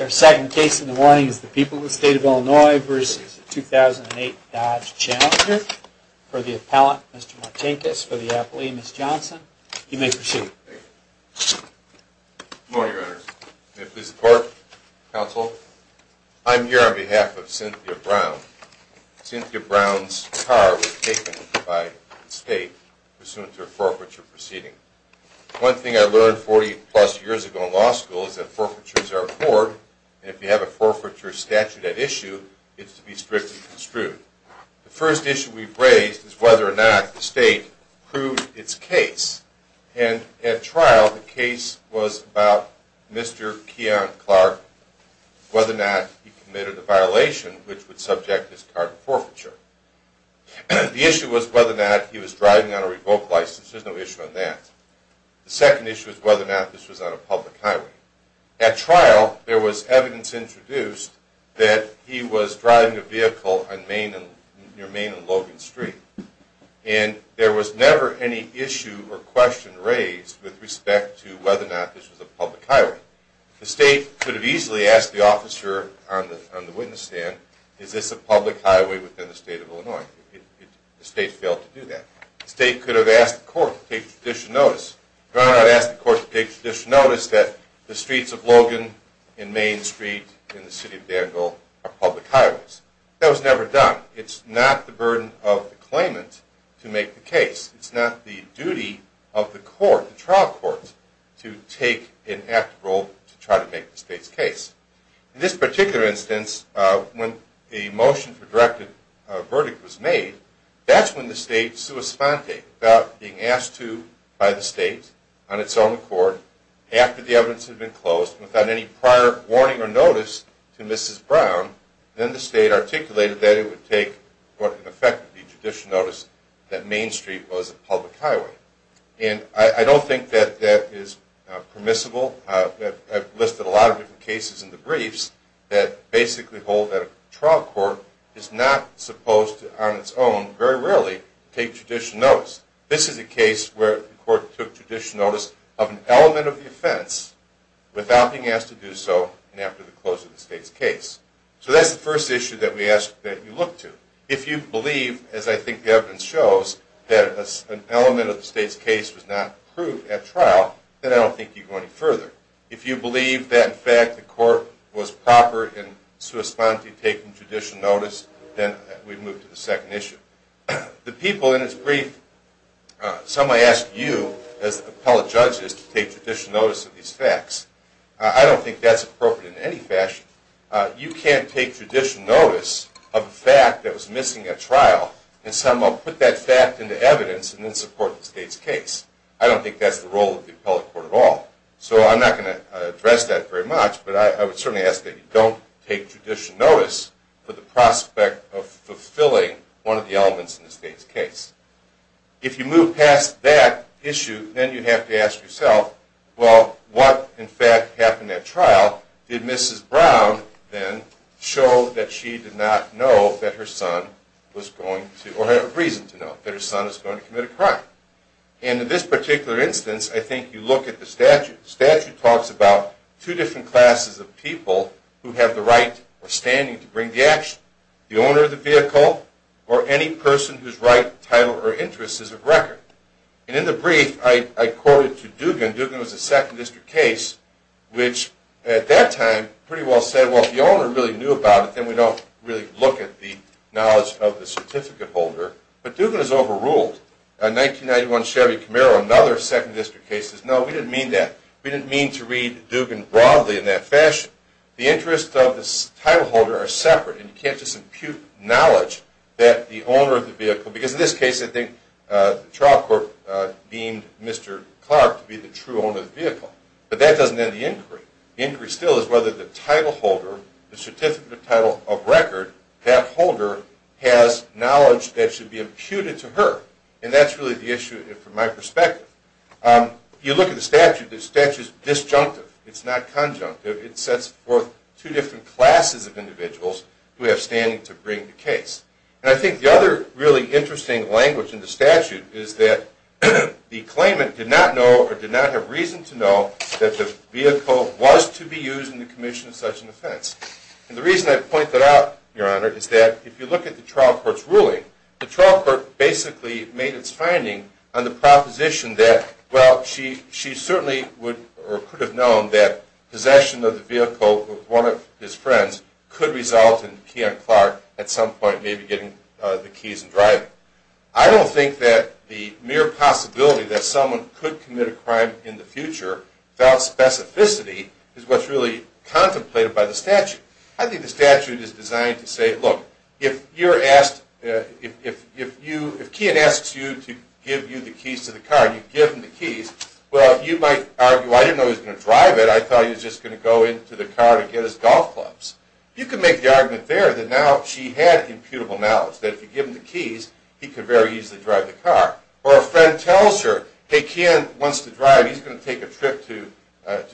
Our second case in the morning is the people of the state of Illinois versus the 2008 Dodge Challenger. For the appellant, Mr. Martinkus. For the appellee, Ms. Johnson. You may proceed. Thank you. Good morning, Your Honor. May it please the Court, Counsel. I'm here on behalf of Cynthia Brown. Cynthia Brown's car was taken by the state pursuant to a forfeiture proceeding. One thing I learned 40-plus years ago in law school is that forfeitures are a court, and if you have a forfeiture statute at issue, it's to be strictly construed. The first issue we've raised is whether or not the state proved its case. And at trial, the case was about Mr. Keon Clark, whether or not he committed a violation which would subject his car to forfeiture. The issue was whether or not he was driving on a revoked license. There's no issue on that. The second issue is whether or not this was on a public highway. At trial, there was evidence introduced that he was driving a vehicle near Main and Logan Street, and there was never any issue or question raised with respect to whether or not this was a public highway. The state could have easily asked the officer on the witness stand, is this a public highway within the state of Illinois? The state failed to do that. The state could have asked the court to take judicial notice. The court could have asked the court to take judicial notice that the streets of Logan and Main Street in the city of Danville are public highways. That was never done. It's not the burden of the claimant to make the case. It's not the duty of the court, the trial court, to take an active role to try to make the state's case. In this particular instance, when the motion for directed verdict was made, that's when the state, sua sponte, without being asked to by the state on its own accord, after the evidence had been closed, without any prior warning or notice to Mrs. Brown, then the state articulated that it would take what would effectively be judicial notice that Main Street was a public highway. And I don't think that that is permissible. I've listed a lot of different cases in the briefs that basically hold that a trial court is not supposed to, on its own, very rarely, take judicial notice. This is a case where the court took judicial notice of an element of the offense without being asked to do so after the close of the state's case. So that's the first issue that we ask that you look to. If you believe, as I think the evidence shows, that an element of the state's case was not approved at trial, then I don't think you go any further. If you believe that, in fact, the court was proper in sua sponte taking judicial notice, then we move to the second issue. The people in this brief, some may ask you, as appellate judges, to take judicial notice of these facts. I don't think that's appropriate in any fashion. You can't take judicial notice of a fact that was missing at trial and somehow put that fact into evidence and then support the state's case. I don't think that's the role of the appellate court at all. So I'm not going to address that very much, but I would certainly ask that you don't take judicial notice for the prospect of fulfilling one of the elements in the state's case. If you move past that issue, then you have to ask yourself, well, what, in fact, happened at trial? Did Mrs. Brown, then, show that she did not know that her son was going to, or had reason to know, that her son was going to commit a crime? And in this particular instance, I think you look at the statute. The statute talks about two different classes of people who have the right or standing to bring the action. The owner of the vehicle or any person whose right, title, or interest is of record. And in the brief, I quoted to Dugan. Dugan was a Second District case, which at that time pretty well said, well, if the owner really knew about it, then we don't really look at the knowledge of the certificate holder. But Dugan has overruled. In 1991, Chevy Camaro, another Second District case, says, no, we didn't mean that. We didn't mean to read Dugan broadly in that fashion. The interests of the title holder are separate, and you can't just impute knowledge that the owner of the vehicle – because in this case, I think, the trial court deemed Mr. Clark to be the true owner of the vehicle. But that doesn't end the inquiry. The inquiry still is whether the title holder, the certificate of title of record, that holder has knowledge that should be imputed to her. And that's really the issue from my perspective. You look at the statute, the statute is disjunctive. It's not conjunctive. It sets forth two different classes of individuals who have standing to bring the case. And I think the other really interesting language in the statute is that the claimant did not know or did not have reason to know that the vehicle was to be used in the commission of such an offense. And the reason I point that out, Your Honor, is that if you look at the trial court's ruling, the trial court basically made its finding on the proposition that, well, she certainly would or could have known that possession of the vehicle with one of his friends could result in P.M. Clark at some point, maybe in the future. Maybe getting the keys and driving. I don't think that the mere possibility that someone could commit a crime in the future, without specificity, is what's really contemplated by the statute. I think the statute is designed to say, look, if you're asked, if Keehan asks you to give you the keys to the car and you've given the keys, well, you might argue, I didn't know he was going to drive it. I thought he was just going to go into the car to get his golf clubs. You could make the argument there that now she had imputable knowledge, that if you give him the keys, he could very easily drive the car. Or a friend tells her, hey, Keehan wants to drive, he's going to take a trip to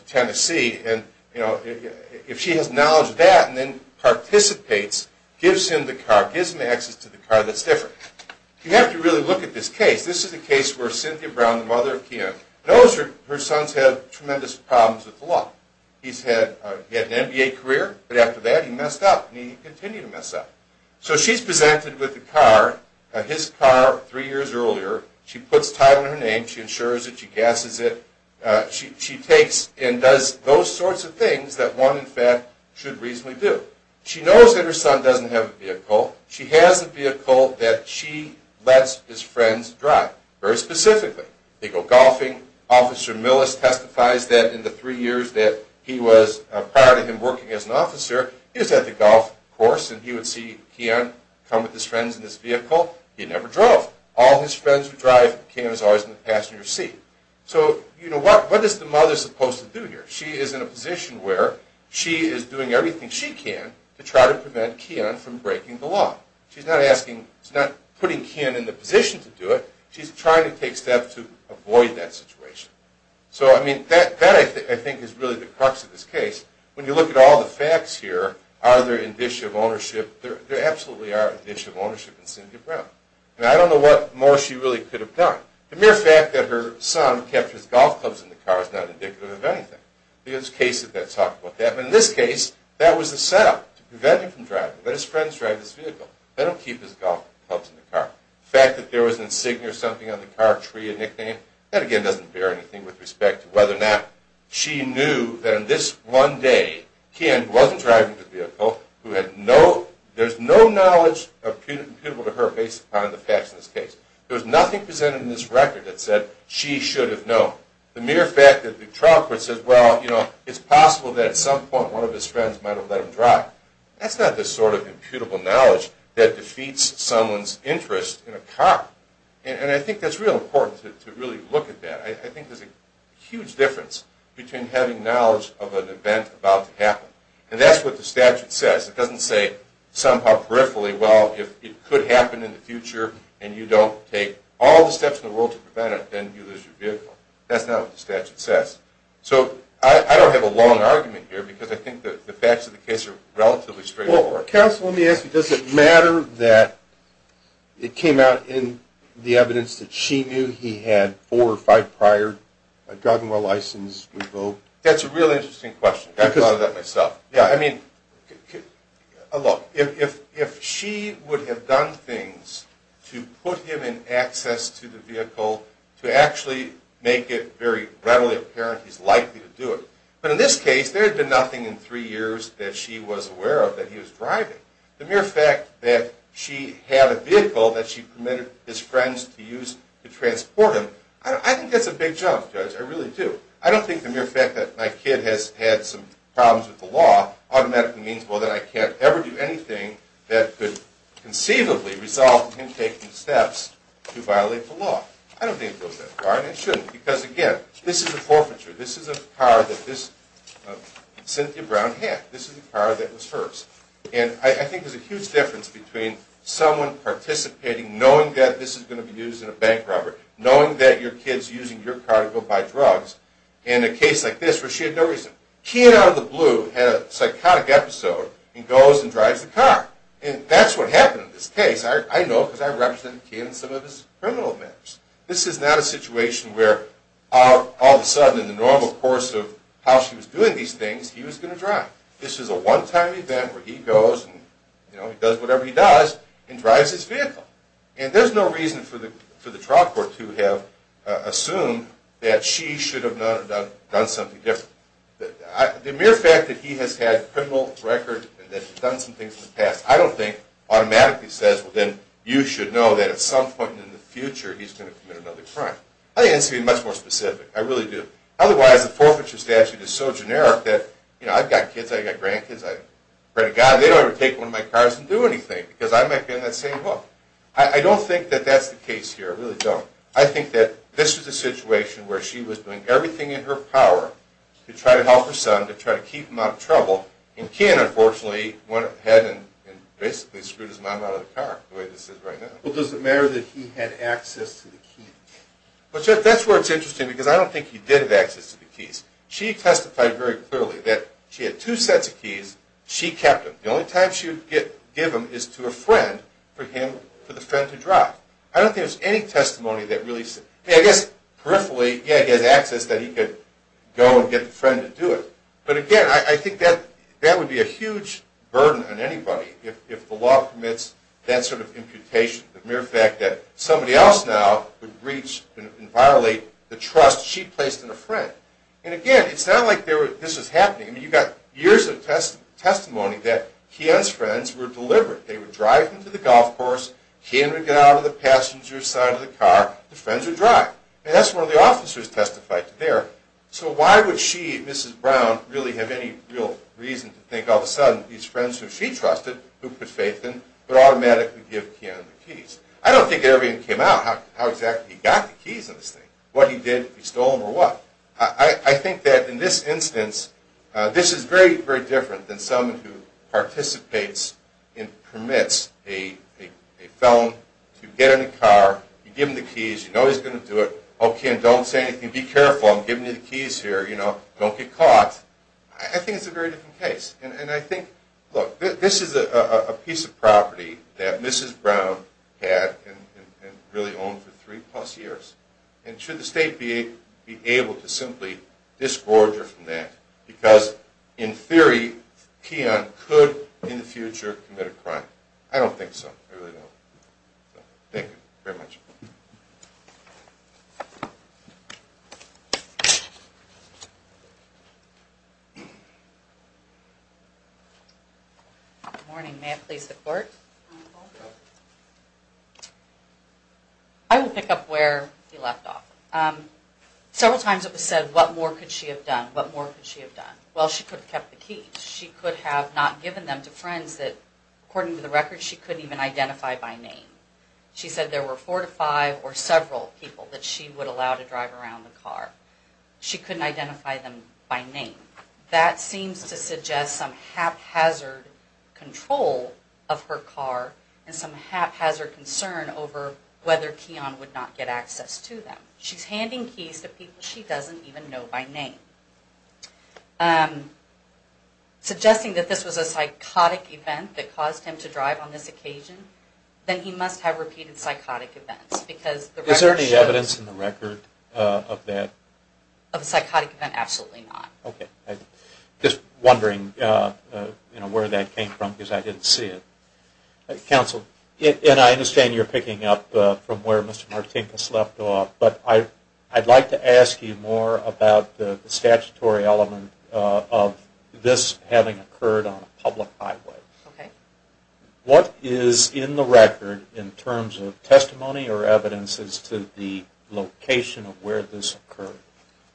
Tennessee, and if she has knowledge of that and then participates, gives him the car, gives him access to the car that's different. You have to really look at this case. This is a case where Cynthia Brown, the mother of Keehan, knows her son's had tremendous problems with the law. He's had an MBA career, but after that he messed up, and he continued to mess up. So she's presented with the car, his car, three years earlier. She puts a title on her name, she insures it, she gasses it. She takes and does those sorts of things that one, in fact, should reasonably do. She knows that her son doesn't have a vehicle. She has a vehicle that she lets his friends drive, very specifically. They go golfing. Officer Millis testifies that in the three years that he was, prior to him working as an officer, he was at the golf course, and he would see Keehan come with his friends in his vehicle. He never drove. All his friends would drive, and Keehan was always in the passenger seat. So, you know, what is the mother supposed to do here? She is in a position where she is doing everything she can to try to prevent Keehan from breaking the law. She's not asking, she's not putting Keehan in the position to do it. She's trying to take steps to avoid that situation. So, I mean, that I think is really the crux of this case. When you look at all the facts here, are there indicia of ownership? There absolutely are indicia of ownership in Cynthia Brown. Now, I don't know what more she really could have done. The mere fact that her son kept his golf clubs in the car is not indicative of anything. There's cases that talk about that, but in this case, that was the setup to prevent him from driving. Let his friends drive his vehicle. They don't keep his golf clubs in the car. The fact that there was an insignia or something on the car, a tree, a nickname, that again doesn't bear anything with respect to whether or not she knew that in this one day, Keehan wasn't driving the vehicle, who had no, there's no knowledge of people to her based upon the facts in this case. There was nothing presented in this record that said she should have known. The mere fact that the trial court says, well, you know, it's possible that at some point one of his friends might have let him drive. That's not the sort of imputable knowledge that defeats someone's interest in a car. And I think that's real important to really look at that. I think there's a huge difference between having knowledge of an event about to happen. And that's what the statute says. It doesn't say somehow peripherally, well, if it could happen in the future and you don't take all the steps in the world to prevent it, then you lose your vehicle. That's not what the statute says. So I don't have a long argument here because I think that the facts of the case are relatively straightforward. Counsel, let me ask you, does it matter that it came out in the evidence that she knew he had four or five prior driving license revoked? That's a really interesting question. I thought of that myself. Yeah, I mean, look, if she would have done things to put him in access to the vehicle to actually make it very readily apparent he's likely to do it. But in this case, there had been nothing in three years that she was aware of that he was driving. The mere fact that she had a vehicle that she permitted his friends to use to transport him, I think that's a big jump, Judge. I really do. I don't think the mere fact that my kid has had some problems with the law automatically means, well, that I can't ever do anything that could conceivably result in him taking steps to violate the law. I don't think it goes that far, and it shouldn't. Because again, this is a forfeiture. This isn't a car that Cynthia Brown had. This is a car that was hers. And I think there's a huge difference between someone participating, knowing that this is going to be used in a bank robbery, knowing that your kid's using your car to go buy drugs, and a case like this where she had no reason. Kian, out of the blue, had a psychotic episode and goes and drives the car. And that's what happened in this case. I know because I represented Kian in some of his criminal matters. This is not a situation where all of a sudden, in the normal course of how she was doing these things, he was going to drive. This is a one-time event where he goes and does whatever he does and drives his vehicle. And there's no reason for the trial court to have assumed that she should have done something different. The mere fact that he has had a criminal record and that he's done some things in the past, I don't think, automatically says, well, then you should know that at some point in the future, he's going to commit another crime. I think it has to be much more specific. I really do. Otherwise, the forfeiture statute is so generic that, you know, I've got kids, I've got grandkids. I pray to God they don't ever take one of my cars and do anything, because I might be on that same hook. I don't think that that's the case here. I really don't. I think that this was a situation where she was doing everything in her power to try to help her son, to try to keep him out of trouble. And Kian, unfortunately, went ahead and basically screwed his mom out of the car, the way this is right now. Well, does it matter that he had access to the keys? The mere fact that somebody else now would breach and violate the trust she placed in a friend. And again, it's not like this was happening. I mean, you've got years of testimony that Kian's friends were deliberate. They would drive him to the golf course, Kian would get out of the passenger side of the car, the friends would drive. And that's where the officers testified to there. So why would she, Mrs. Brown, really have any real reason to think all of a sudden these friends who she trusted, who put faith in, would automatically give Kian the keys? I don't think it ever even came out how exactly he got the keys on this thing, what he did, if he stole them or what. So I think that in this instance, this is very, very different than someone who participates and permits a felon to get in a car, you give him the keys, you know he's going to do it, okay, and don't say anything, be careful, I'm giving you the keys here, you know, don't get caught. I think it's a very different case. And I think, look, this is a piece of property that Mrs. Brown had and really owned for three plus years. And should the state be able to simply disgorge her from that? Because in theory, Kian could, in the future, commit a crime. I don't think so, I really don't. Thank you very much. Good morning, may I please the court? I will pick up where you left off. Several times it was said, what more could she have done, what more could she have done? Well, she could have kept the keys, she could have not given them to friends that, according to the record, she couldn't even identify by name. She said there were four to five or several people that she would allow to drive around the car. She couldn't identify them by name. That seems to suggest some haphazard control of her car and some haphazard concern over whether Kian would not get access to them. She's handing keys to people she doesn't even know by name. Suggesting that this was a psychotic event that caused him to drive on this occasion, then he must have repeated psychotic events. Is there any evidence in the record of that? Of a psychotic event? Absolutely not. Just wondering where that came from because I didn't see it. Counsel, and I understand you're picking up from where Mr. Martinkus left off, but I'd like to ask you more about the statutory element of this having occurred on a public highway. What is in the record in terms of testimony or evidence as to the location of where this occurred?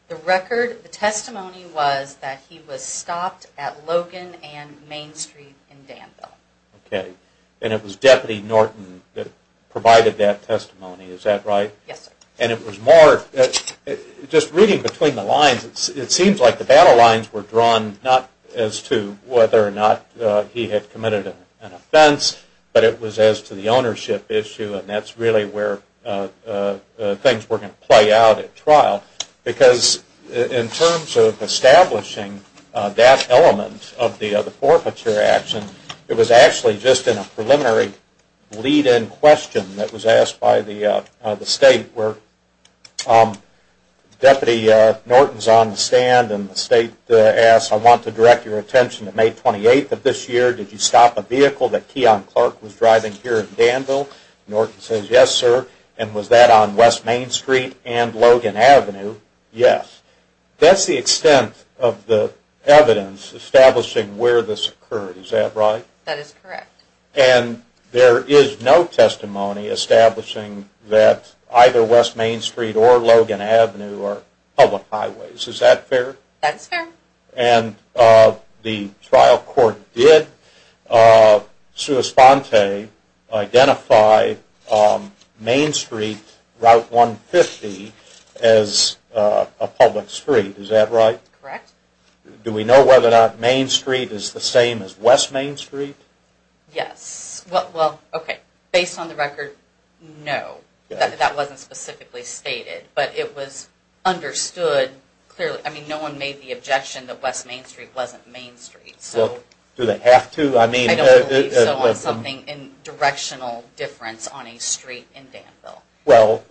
The record, the testimony was that he was stopped at Logan and Main Street in Danville. Okay, and it was Deputy Norton that provided that testimony, is that right? Yes, sir. And it was more, just reading between the lines, it seems like the battle lines were drawn not as to whether or not he had committed an offense, but it was as to the ownership issue and that's really where things were going to play out at trial. Because in terms of establishing that element of the forfeiture action, it was actually just in a preliminary lead-in question that was asked by the State where Deputy Norton's on the stand and the State asked, I want to direct your attention to May 28th of this year, did you stop a vehicle that Keyon Clark was driving here in Danville? Norton says yes, sir, and was that on West Main Street and Logan Avenue? Yes. That's the extent of the evidence establishing where this occurred, is that right? That is correct. And there is no testimony establishing that either West Main Street or Logan Avenue are public highways, is that fair? That is fair. And the trial court did, sua sponte, identify Main Street Route 150 as a public street, is that right? Correct. Do we know whether or not Main Street is the same as West Main Street? Yes. Well, okay, based on the record, no, that wasn't specifically stated. But it was understood clearly, I mean, no one made the objection that West Main Street wasn't Main Street. Do they have to? I don't believe so on something in directional difference on a street in Danville. Well,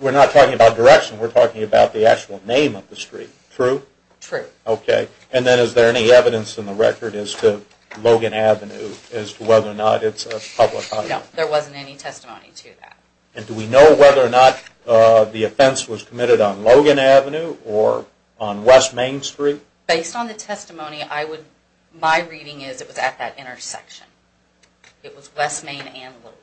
we're not talking about direction, we're talking about the actual name of the street. True? True. Okay, and then is there any evidence in the record as to Logan Avenue, as to whether or not it's a public highway? No, there wasn't any testimony to that. And do we know whether or not the offense was committed on Logan Avenue or on West Main Street? Based on the testimony, my reading is it was at that intersection. It was West Main and Logan.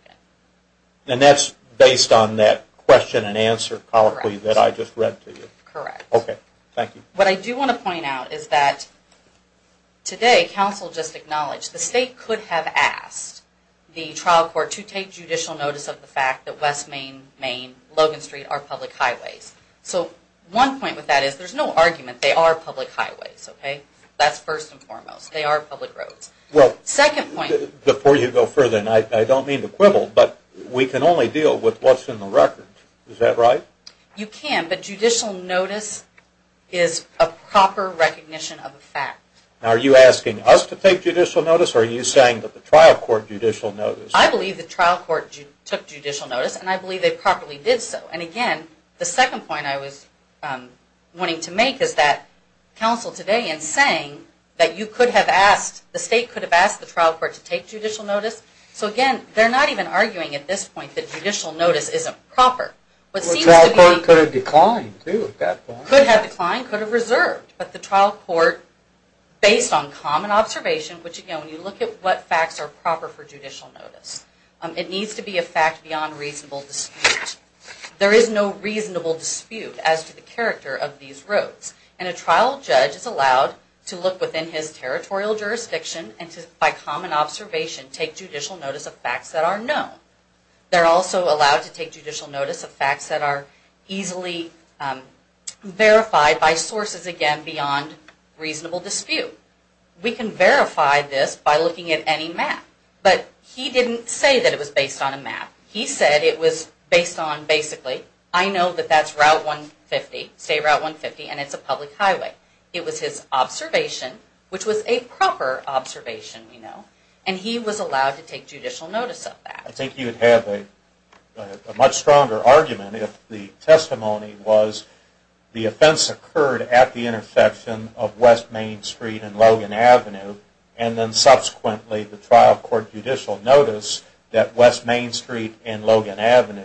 And that's based on that question and answer colloquy that I just read to you? Correct. Okay, thank you. What I do want to point out is that today, council just acknowledged the state could have asked the trial court to take judicial notice of the fact that West Main, Main, Logan Street are public highways. So one point with that is there's no argument they are public highways, okay? That's first and foremost. They are public roads. Well, before you go further, and I don't mean to quibble, but we can only deal with what's in the record. Is that right? You can, but judicial notice is a proper recognition of a fact. Are you asking us to take judicial notice, or are you saying that the trial court judicial notice? I believe the trial court took judicial notice, and I believe they properly did so. And again, the second point I was wanting to make is that council today is saying that you could have asked, the state could have asked the trial court to take judicial notice. So again, they're not even arguing at this point that judicial notice isn't proper. Well, the trial court could have declined too at that point. Could have declined, could have reserved, but the trial court, based on common observation, which again, when you look at what facts are proper for judicial notice, it needs to be a fact beyond reasonable dispute. There is no reasonable dispute as to the character of these roads, and a trial judge is allowed to look within his territorial jurisdiction and by common observation take judicial notice of facts that are known. They're also allowed to take judicial notice of facts that are easily verified by sources, again, beyond reasonable dispute. We can verify this by looking at any map, but he didn't say that it was based on a map. He said it was based on basically, I know that that's Route 150, State Route 150, and it's a public highway. It was his observation, which was a proper observation, you know, and he was allowed to take judicial notice of that. I think you'd have a much stronger argument if the testimony was the offense occurred at the intersection of West Main Street and Logan Avenue, and then subsequently the trial court judicial notice that West Main Street and Logan Avenue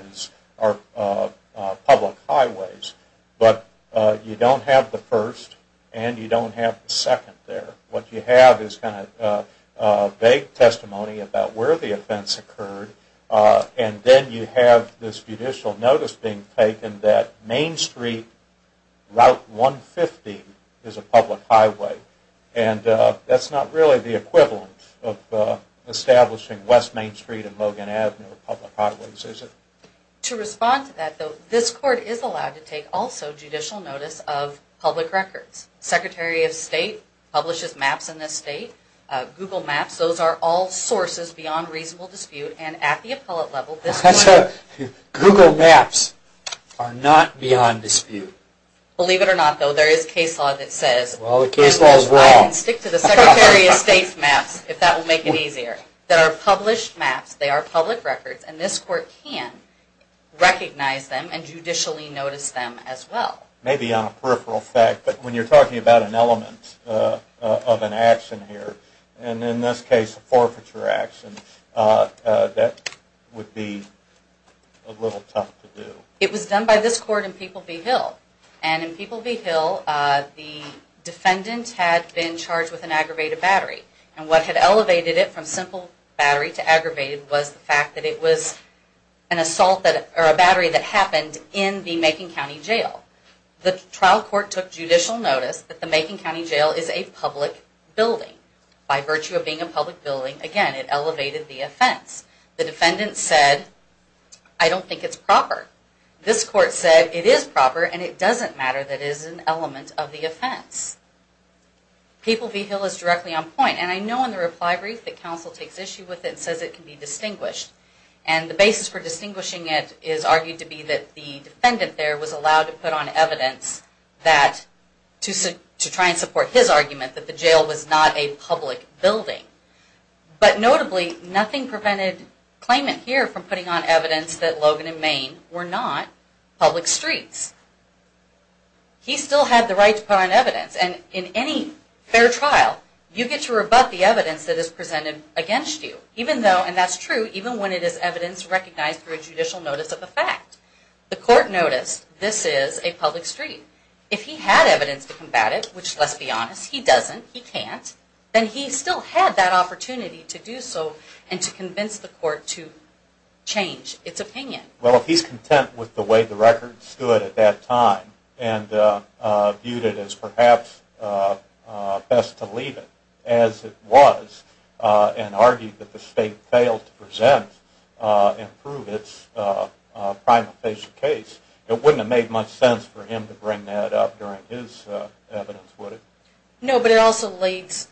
are public highways, but you don't have the first, and you don't have the second there. What you have is kind of vague testimony about where the offense occurred, and then you have this judicial notice being taken that Main Street Route 150 is a public highway, and that's not really the equivalent of establishing West Main Street and Logan Avenue are public highways, is it? To respond to that, though, this court is allowed to take also judicial notice of public records. Secretary of State publishes maps in this state, Google Maps. Those are all sources beyond reasonable dispute, and at the appellate level, this court... Google Maps are not beyond dispute. Believe it or not, though, there is case law that says... Well, the case law is wrong. I can stick to the Secretary of State's maps, if that will make it easier, that are published maps. They are public records, and this court can recognize them and judicially notice them as well. Maybe on a peripheral fact, but when you're talking about an element of an action here, and in this case, a forfeiture action, that would be a little tough to do. It was done by this court in People v. Hill. And in People v. Hill, the defendant had been charged with an aggravated battery. And what had elevated it from simple battery to aggravated was the fact that it was an assault that... or a battery that happened in the Macon County Jail. The trial court took judicial notice that the Macon County Jail is a public building. By virtue of being a public building, again, it elevated the offense. The defendant said, I don't think it's proper. This court said it is proper, and it doesn't matter that it is an element of the offense. People v. Hill is directly on point, and I know in the reply brief that counsel takes issue with it and says it can be distinguished. And the basis for distinguishing it is argued to be that the defendant there was allowed to put on evidence to try and support his argument that the jail was not a public building. But notably, nothing prevented claimant here from putting on evidence that Logan and Main were not public streets. He still had the right to put on evidence. And in any fair trial, you get to rebut the evidence that is presented against you. Even though, and that's true, even when it is evidence recognized through a judicial notice of the fact, the court noticed this is a public street. If he had evidence to combat it, which let's be honest, he doesn't, he can't, then he still had that opportunity to do so and to convince the court to change its opinion. Well, if he's content with the way the record stood at that time and viewed it as perhaps best to leave it as it was and argued that the state failed to present and prove its prima facie case, it wouldn't have made much sense for him to bring that up during his evidence, would it? No, but it also lends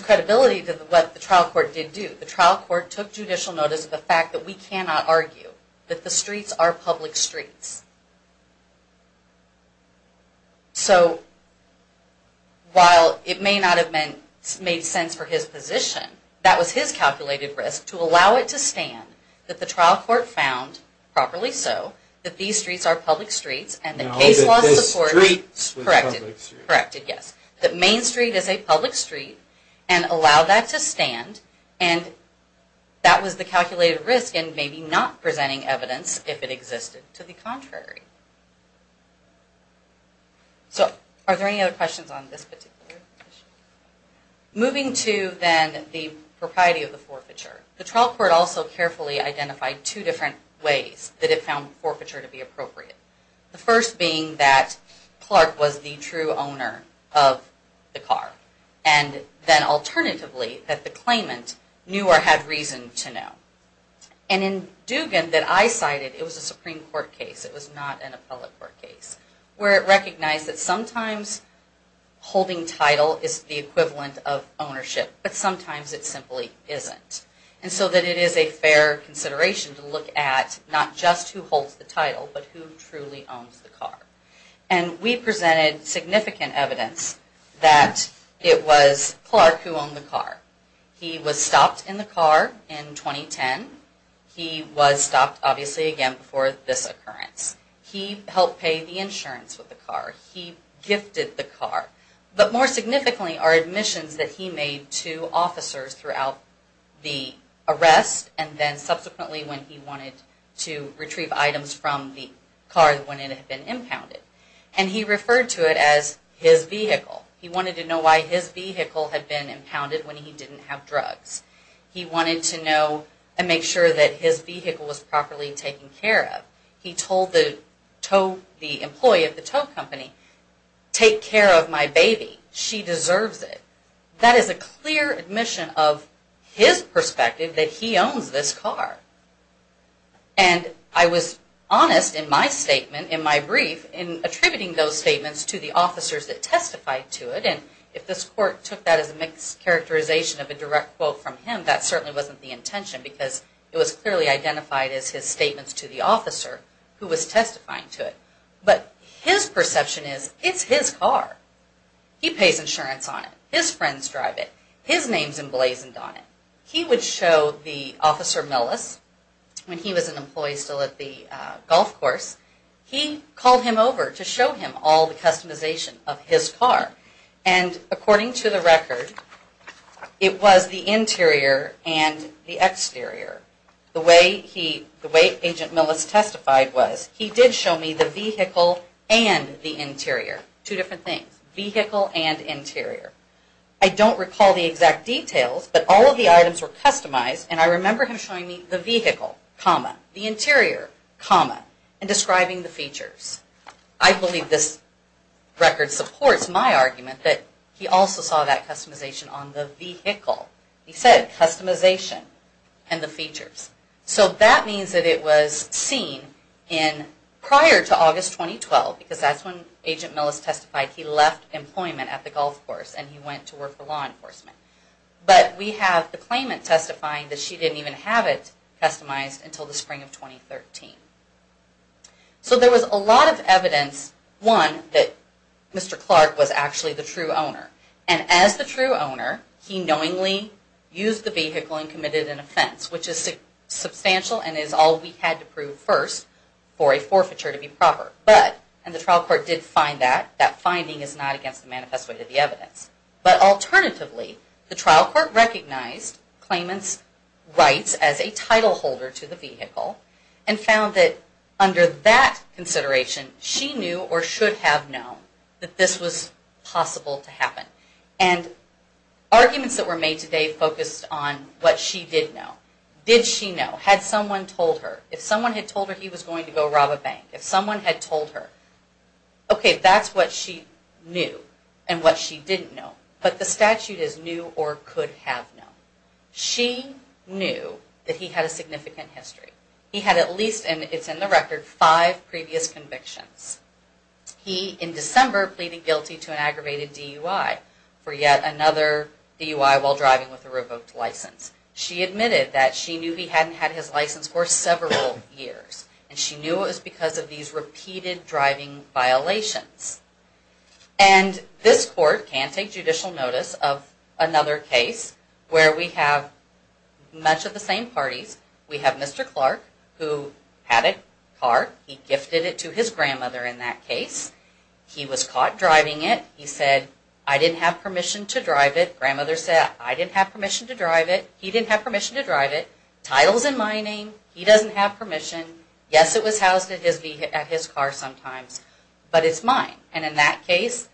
credibility to what the trial court did do. The trial court took judicial notice of the fact that we cannot argue that the streets are public streets. So, while it may not have made sense for his position, that was his calculated risk to allow it to stand that the trial court found, properly so, that these streets are public streets and that case law supported... No, that the streets were public streets. Corrected, yes. ...that Main Street is a public street and allowed that to stand and that was the calculated risk in maybe not presenting evidence if it existed to the contrary. So, are there any other questions on this particular issue? Moving to then the propriety of the forfeiture, the trial court also carefully identified two different ways that it found forfeiture to be appropriate. The first being that Clark was the true owner of the car and then alternatively that the claimant knew or had reason to know. And in Dugan that I cited, it was a Supreme Court case, it was not an appellate court case, where it recognized that sometimes holding title is the equivalent of ownership, but sometimes it simply isn't. And so that it is a fair consideration to look at not just who holds the title but who truly owns the car. And we presented significant evidence that it was Clark who owned the car. He was stopped in the car in 2010. He was stopped obviously again before this occurrence. He helped pay the insurance with the car. He gifted the car. And then subsequently when he wanted to retrieve items from the car when it had been impounded. And he referred to it as his vehicle. He wanted to know why his vehicle had been impounded when he didn't have drugs. He wanted to know and make sure that his vehicle was properly taken care of. He told the employee of the tow company, take care of my baby, she deserves it. That is a clear admission of his perspective that he owns this car. And I was honest in my statement, in my brief, in attributing those statements to the officers that testified to it. And if this court took that as a mixed characterization of a direct quote from him, that certainly wasn't the intention because it was clearly identified as his statements to the officer who was testifying to it. But his perception is it's his car. He pays insurance on it. His friends drive it. His name is emblazoned on it. He would show the officer Millis, when he was an employee still at the golf course, he called him over to show him all the customization of his car. And according to the record, it was the interior and the exterior. The way he, the way Agent Millis testified was, he did show me the vehicle and the interior. Two different things. Vehicle and interior. I don't recall the exact details, but all of the items were customized, and I remember him showing me the vehicle, comma, the interior, comma, and describing the features. I believe this record supports my argument that he also saw that customization on the vehicle. He said customization and the features. So that means that it was seen in prior to August 2012, because that's when Agent Millis testified he left employment at the golf course and he went to work for law enforcement. But we have the claimant testifying that she didn't even have it customized until the spring of 2013. So there was a lot of evidence, one, that Mr. Clark was actually the true owner. And as the true owner, he knowingly used the vehicle and committed an offense, which is substantial and is all we had to prove first for a forfeiture to be proper. But, and the trial court did find that, that finding is not against the manifest way to the evidence. But alternatively, the trial court recognized claimant's rights as a title holder to the vehicle and found that under that consideration, she knew or should have known that this was possible to happen. And arguments that were made today focused on what she did know. Did she know? Had someone told her? If someone had told her he was going to go rob a bank? If someone had told her? Okay, that's what she knew and what she didn't know. But the statute is knew or could have known. She knew that he had a significant history. He had at least, and it's in the record, five previous convictions. He, in December, pleaded guilty to an aggravated DUI for yet another DUI while driving with a revoked license. She admitted that she knew he hadn't had his license for several years. And she knew it was because of these repeated driving violations. And this court can take judicial notice of another case where we have much of the same parties. We have Mr. Clark who had a car. He gifted it to his grandmother in that case. He was caught driving it. He said, I didn't have permission to drive it. Grandmother said, I didn't have permission to drive it. He didn't have permission to drive it. Title's in my name. He doesn't have permission. Yes, it was housed at his car sometimes, but it's mine. And in that case,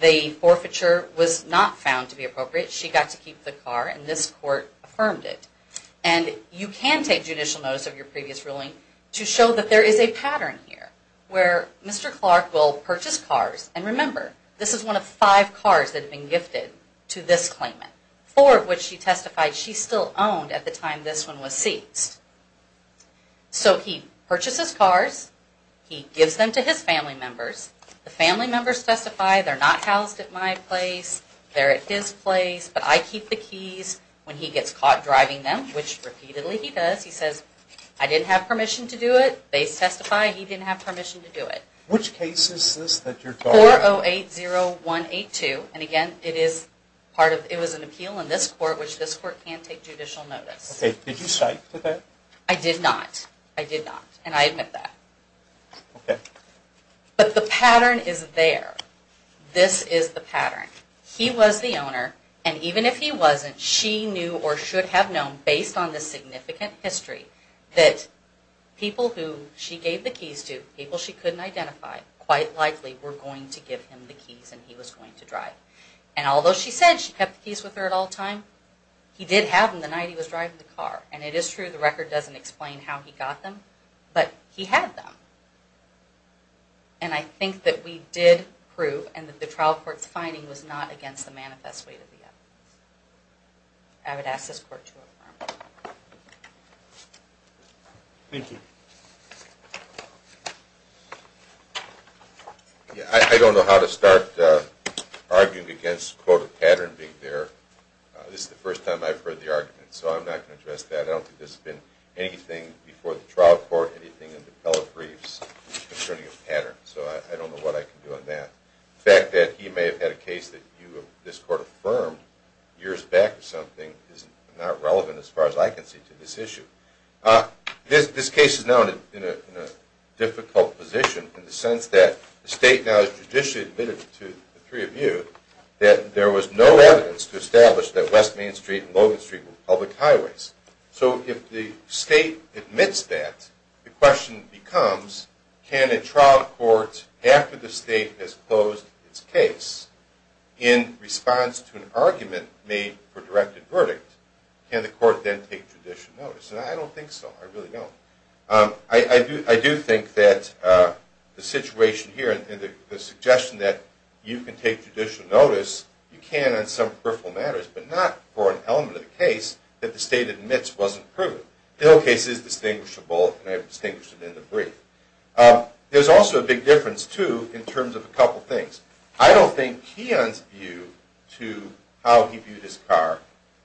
the forfeiture was not found to be appropriate. She got to keep the car, and this court affirmed it. And you can take judicial notice of your previous ruling to show that there is a pattern here where Mr. Clark will purchase cars. And remember, this is one of five cars that have been gifted to this claimant, four of which she testified she still owned at the time this one was seized. So he purchases cars. He gives them to his family members. The family members testify they're not housed at my place. They're at his place. But I keep the keys when he gets caught driving them, which repeatedly he does. He says, I didn't have permission to do it. They testify he didn't have permission to do it. Which case is this that you're talking about? 4080182. And again, it was an appeal in this court, which this court can't take judicial notice. Okay, did you cite to that? I did not. I did not, and I admit that. Okay. But the pattern is there. This is the pattern. He was the owner, and even if he wasn't, she knew or should have known, based on the significant history, that people who she gave the keys to, people she couldn't identify, quite likely were going to give him the keys and he was going to drive. And although she said she kept the keys with her at all times, he did have them the night he was driving the car. And it is true the record doesn't explain how he got them, but he had them. And I think that we did prove, and that the trial court's finding was not against the manifesto. I would ask this court to affirm. Thank you. I don't know how to start arguing against the quote, a pattern being there. This is the first time I've heard the argument, so I'm not going to address that. I don't think this has been anything before the trial court, anything in the appellate briefs concerning a pattern. So I don't know what I can do on that. The fact that he may have had a case that this court affirmed years back or something is not relevant as far as I can see to this issue. This case is now in a difficult position in the sense that the state now has judicially admitted to the three of you that there was no evidence to establish that West Main Street and Logan Street were public highways. So if the state admits that, the question becomes, can a trial court, after the state has closed its case, in response to an argument made for directed verdict, can the court then take judicial notice? And I don't think so. I really don't. I do think that the situation here and the suggestion that you can take judicial notice, you can on some peripheral matters, but not for an element of the case that the state admits wasn't proven. The whole case is distinguishable, and I've distinguished it in the brief. There's also a big difference, too, in terms of a couple things. I don't think Keon's view to how he viewed his car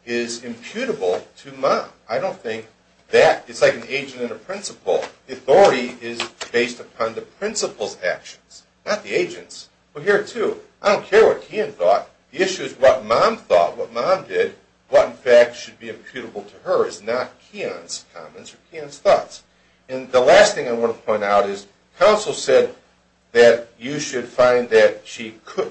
is imputable to Mom. I don't think that. It's like an agent and a principal. The authority is based upon the principal's actions, not the agent's. But here, too, I don't care what Keon thought. The issue is what Mom thought, what Mom did. What, in fact, should be imputable to her is not Keon's comments or Keon's thoughts. And the last thing I want to point out is counsel said that you should find that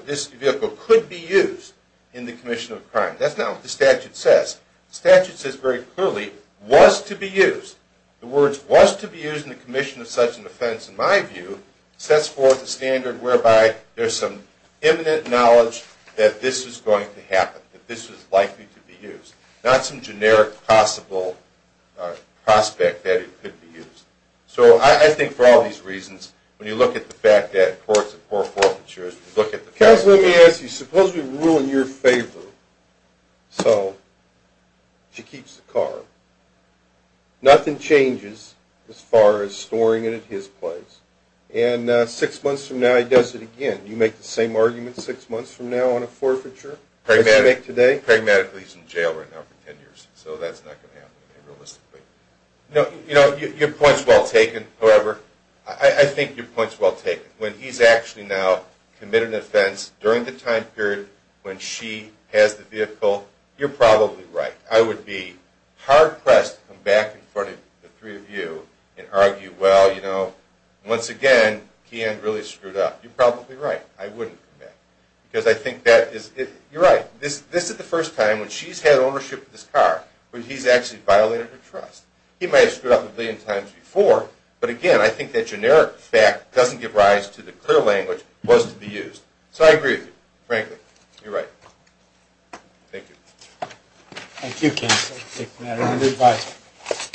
this vehicle could be used in the commission of crime. That's not what the statute says. The statute says very clearly, was to be used. The words was to be used in the commission of such an offense, in my view, sets forth a standard whereby there's some imminent knowledge that this was going to happen, that this was likely to be used, not some generic possible prospect that it could be used. So I think for all these reasons, when you look at the fact that courts have poor forfeitures, Counsel, let me ask you. Suppose we rule in your favor, so she keeps the car. Nothing changes as far as storing it at his place, and six months from now he does it again. Do you make the same argument six months from now on a forfeiture? Pragmatically, he's in jail right now for ten years, so that's not going to happen to him realistically. I think your point's well taken. When he's actually now committed an offense during the time period when she has the vehicle, you're probably right. I would be hard-pressed to come back in front of the three of you and argue, well, you know, once again, Keyan really screwed up. You're probably right. I wouldn't come back, because I think that is... You're right. This is the first time when she's had ownership of this car when he's actually violated her trust. He may have screwed up a billion times before, but again, I think that generic fact doesn't give rise to the clear language it was to be used. So I agree with you, frankly. You're right. Thank you. Thank you, counsel. Thank you, madam. Goodbye.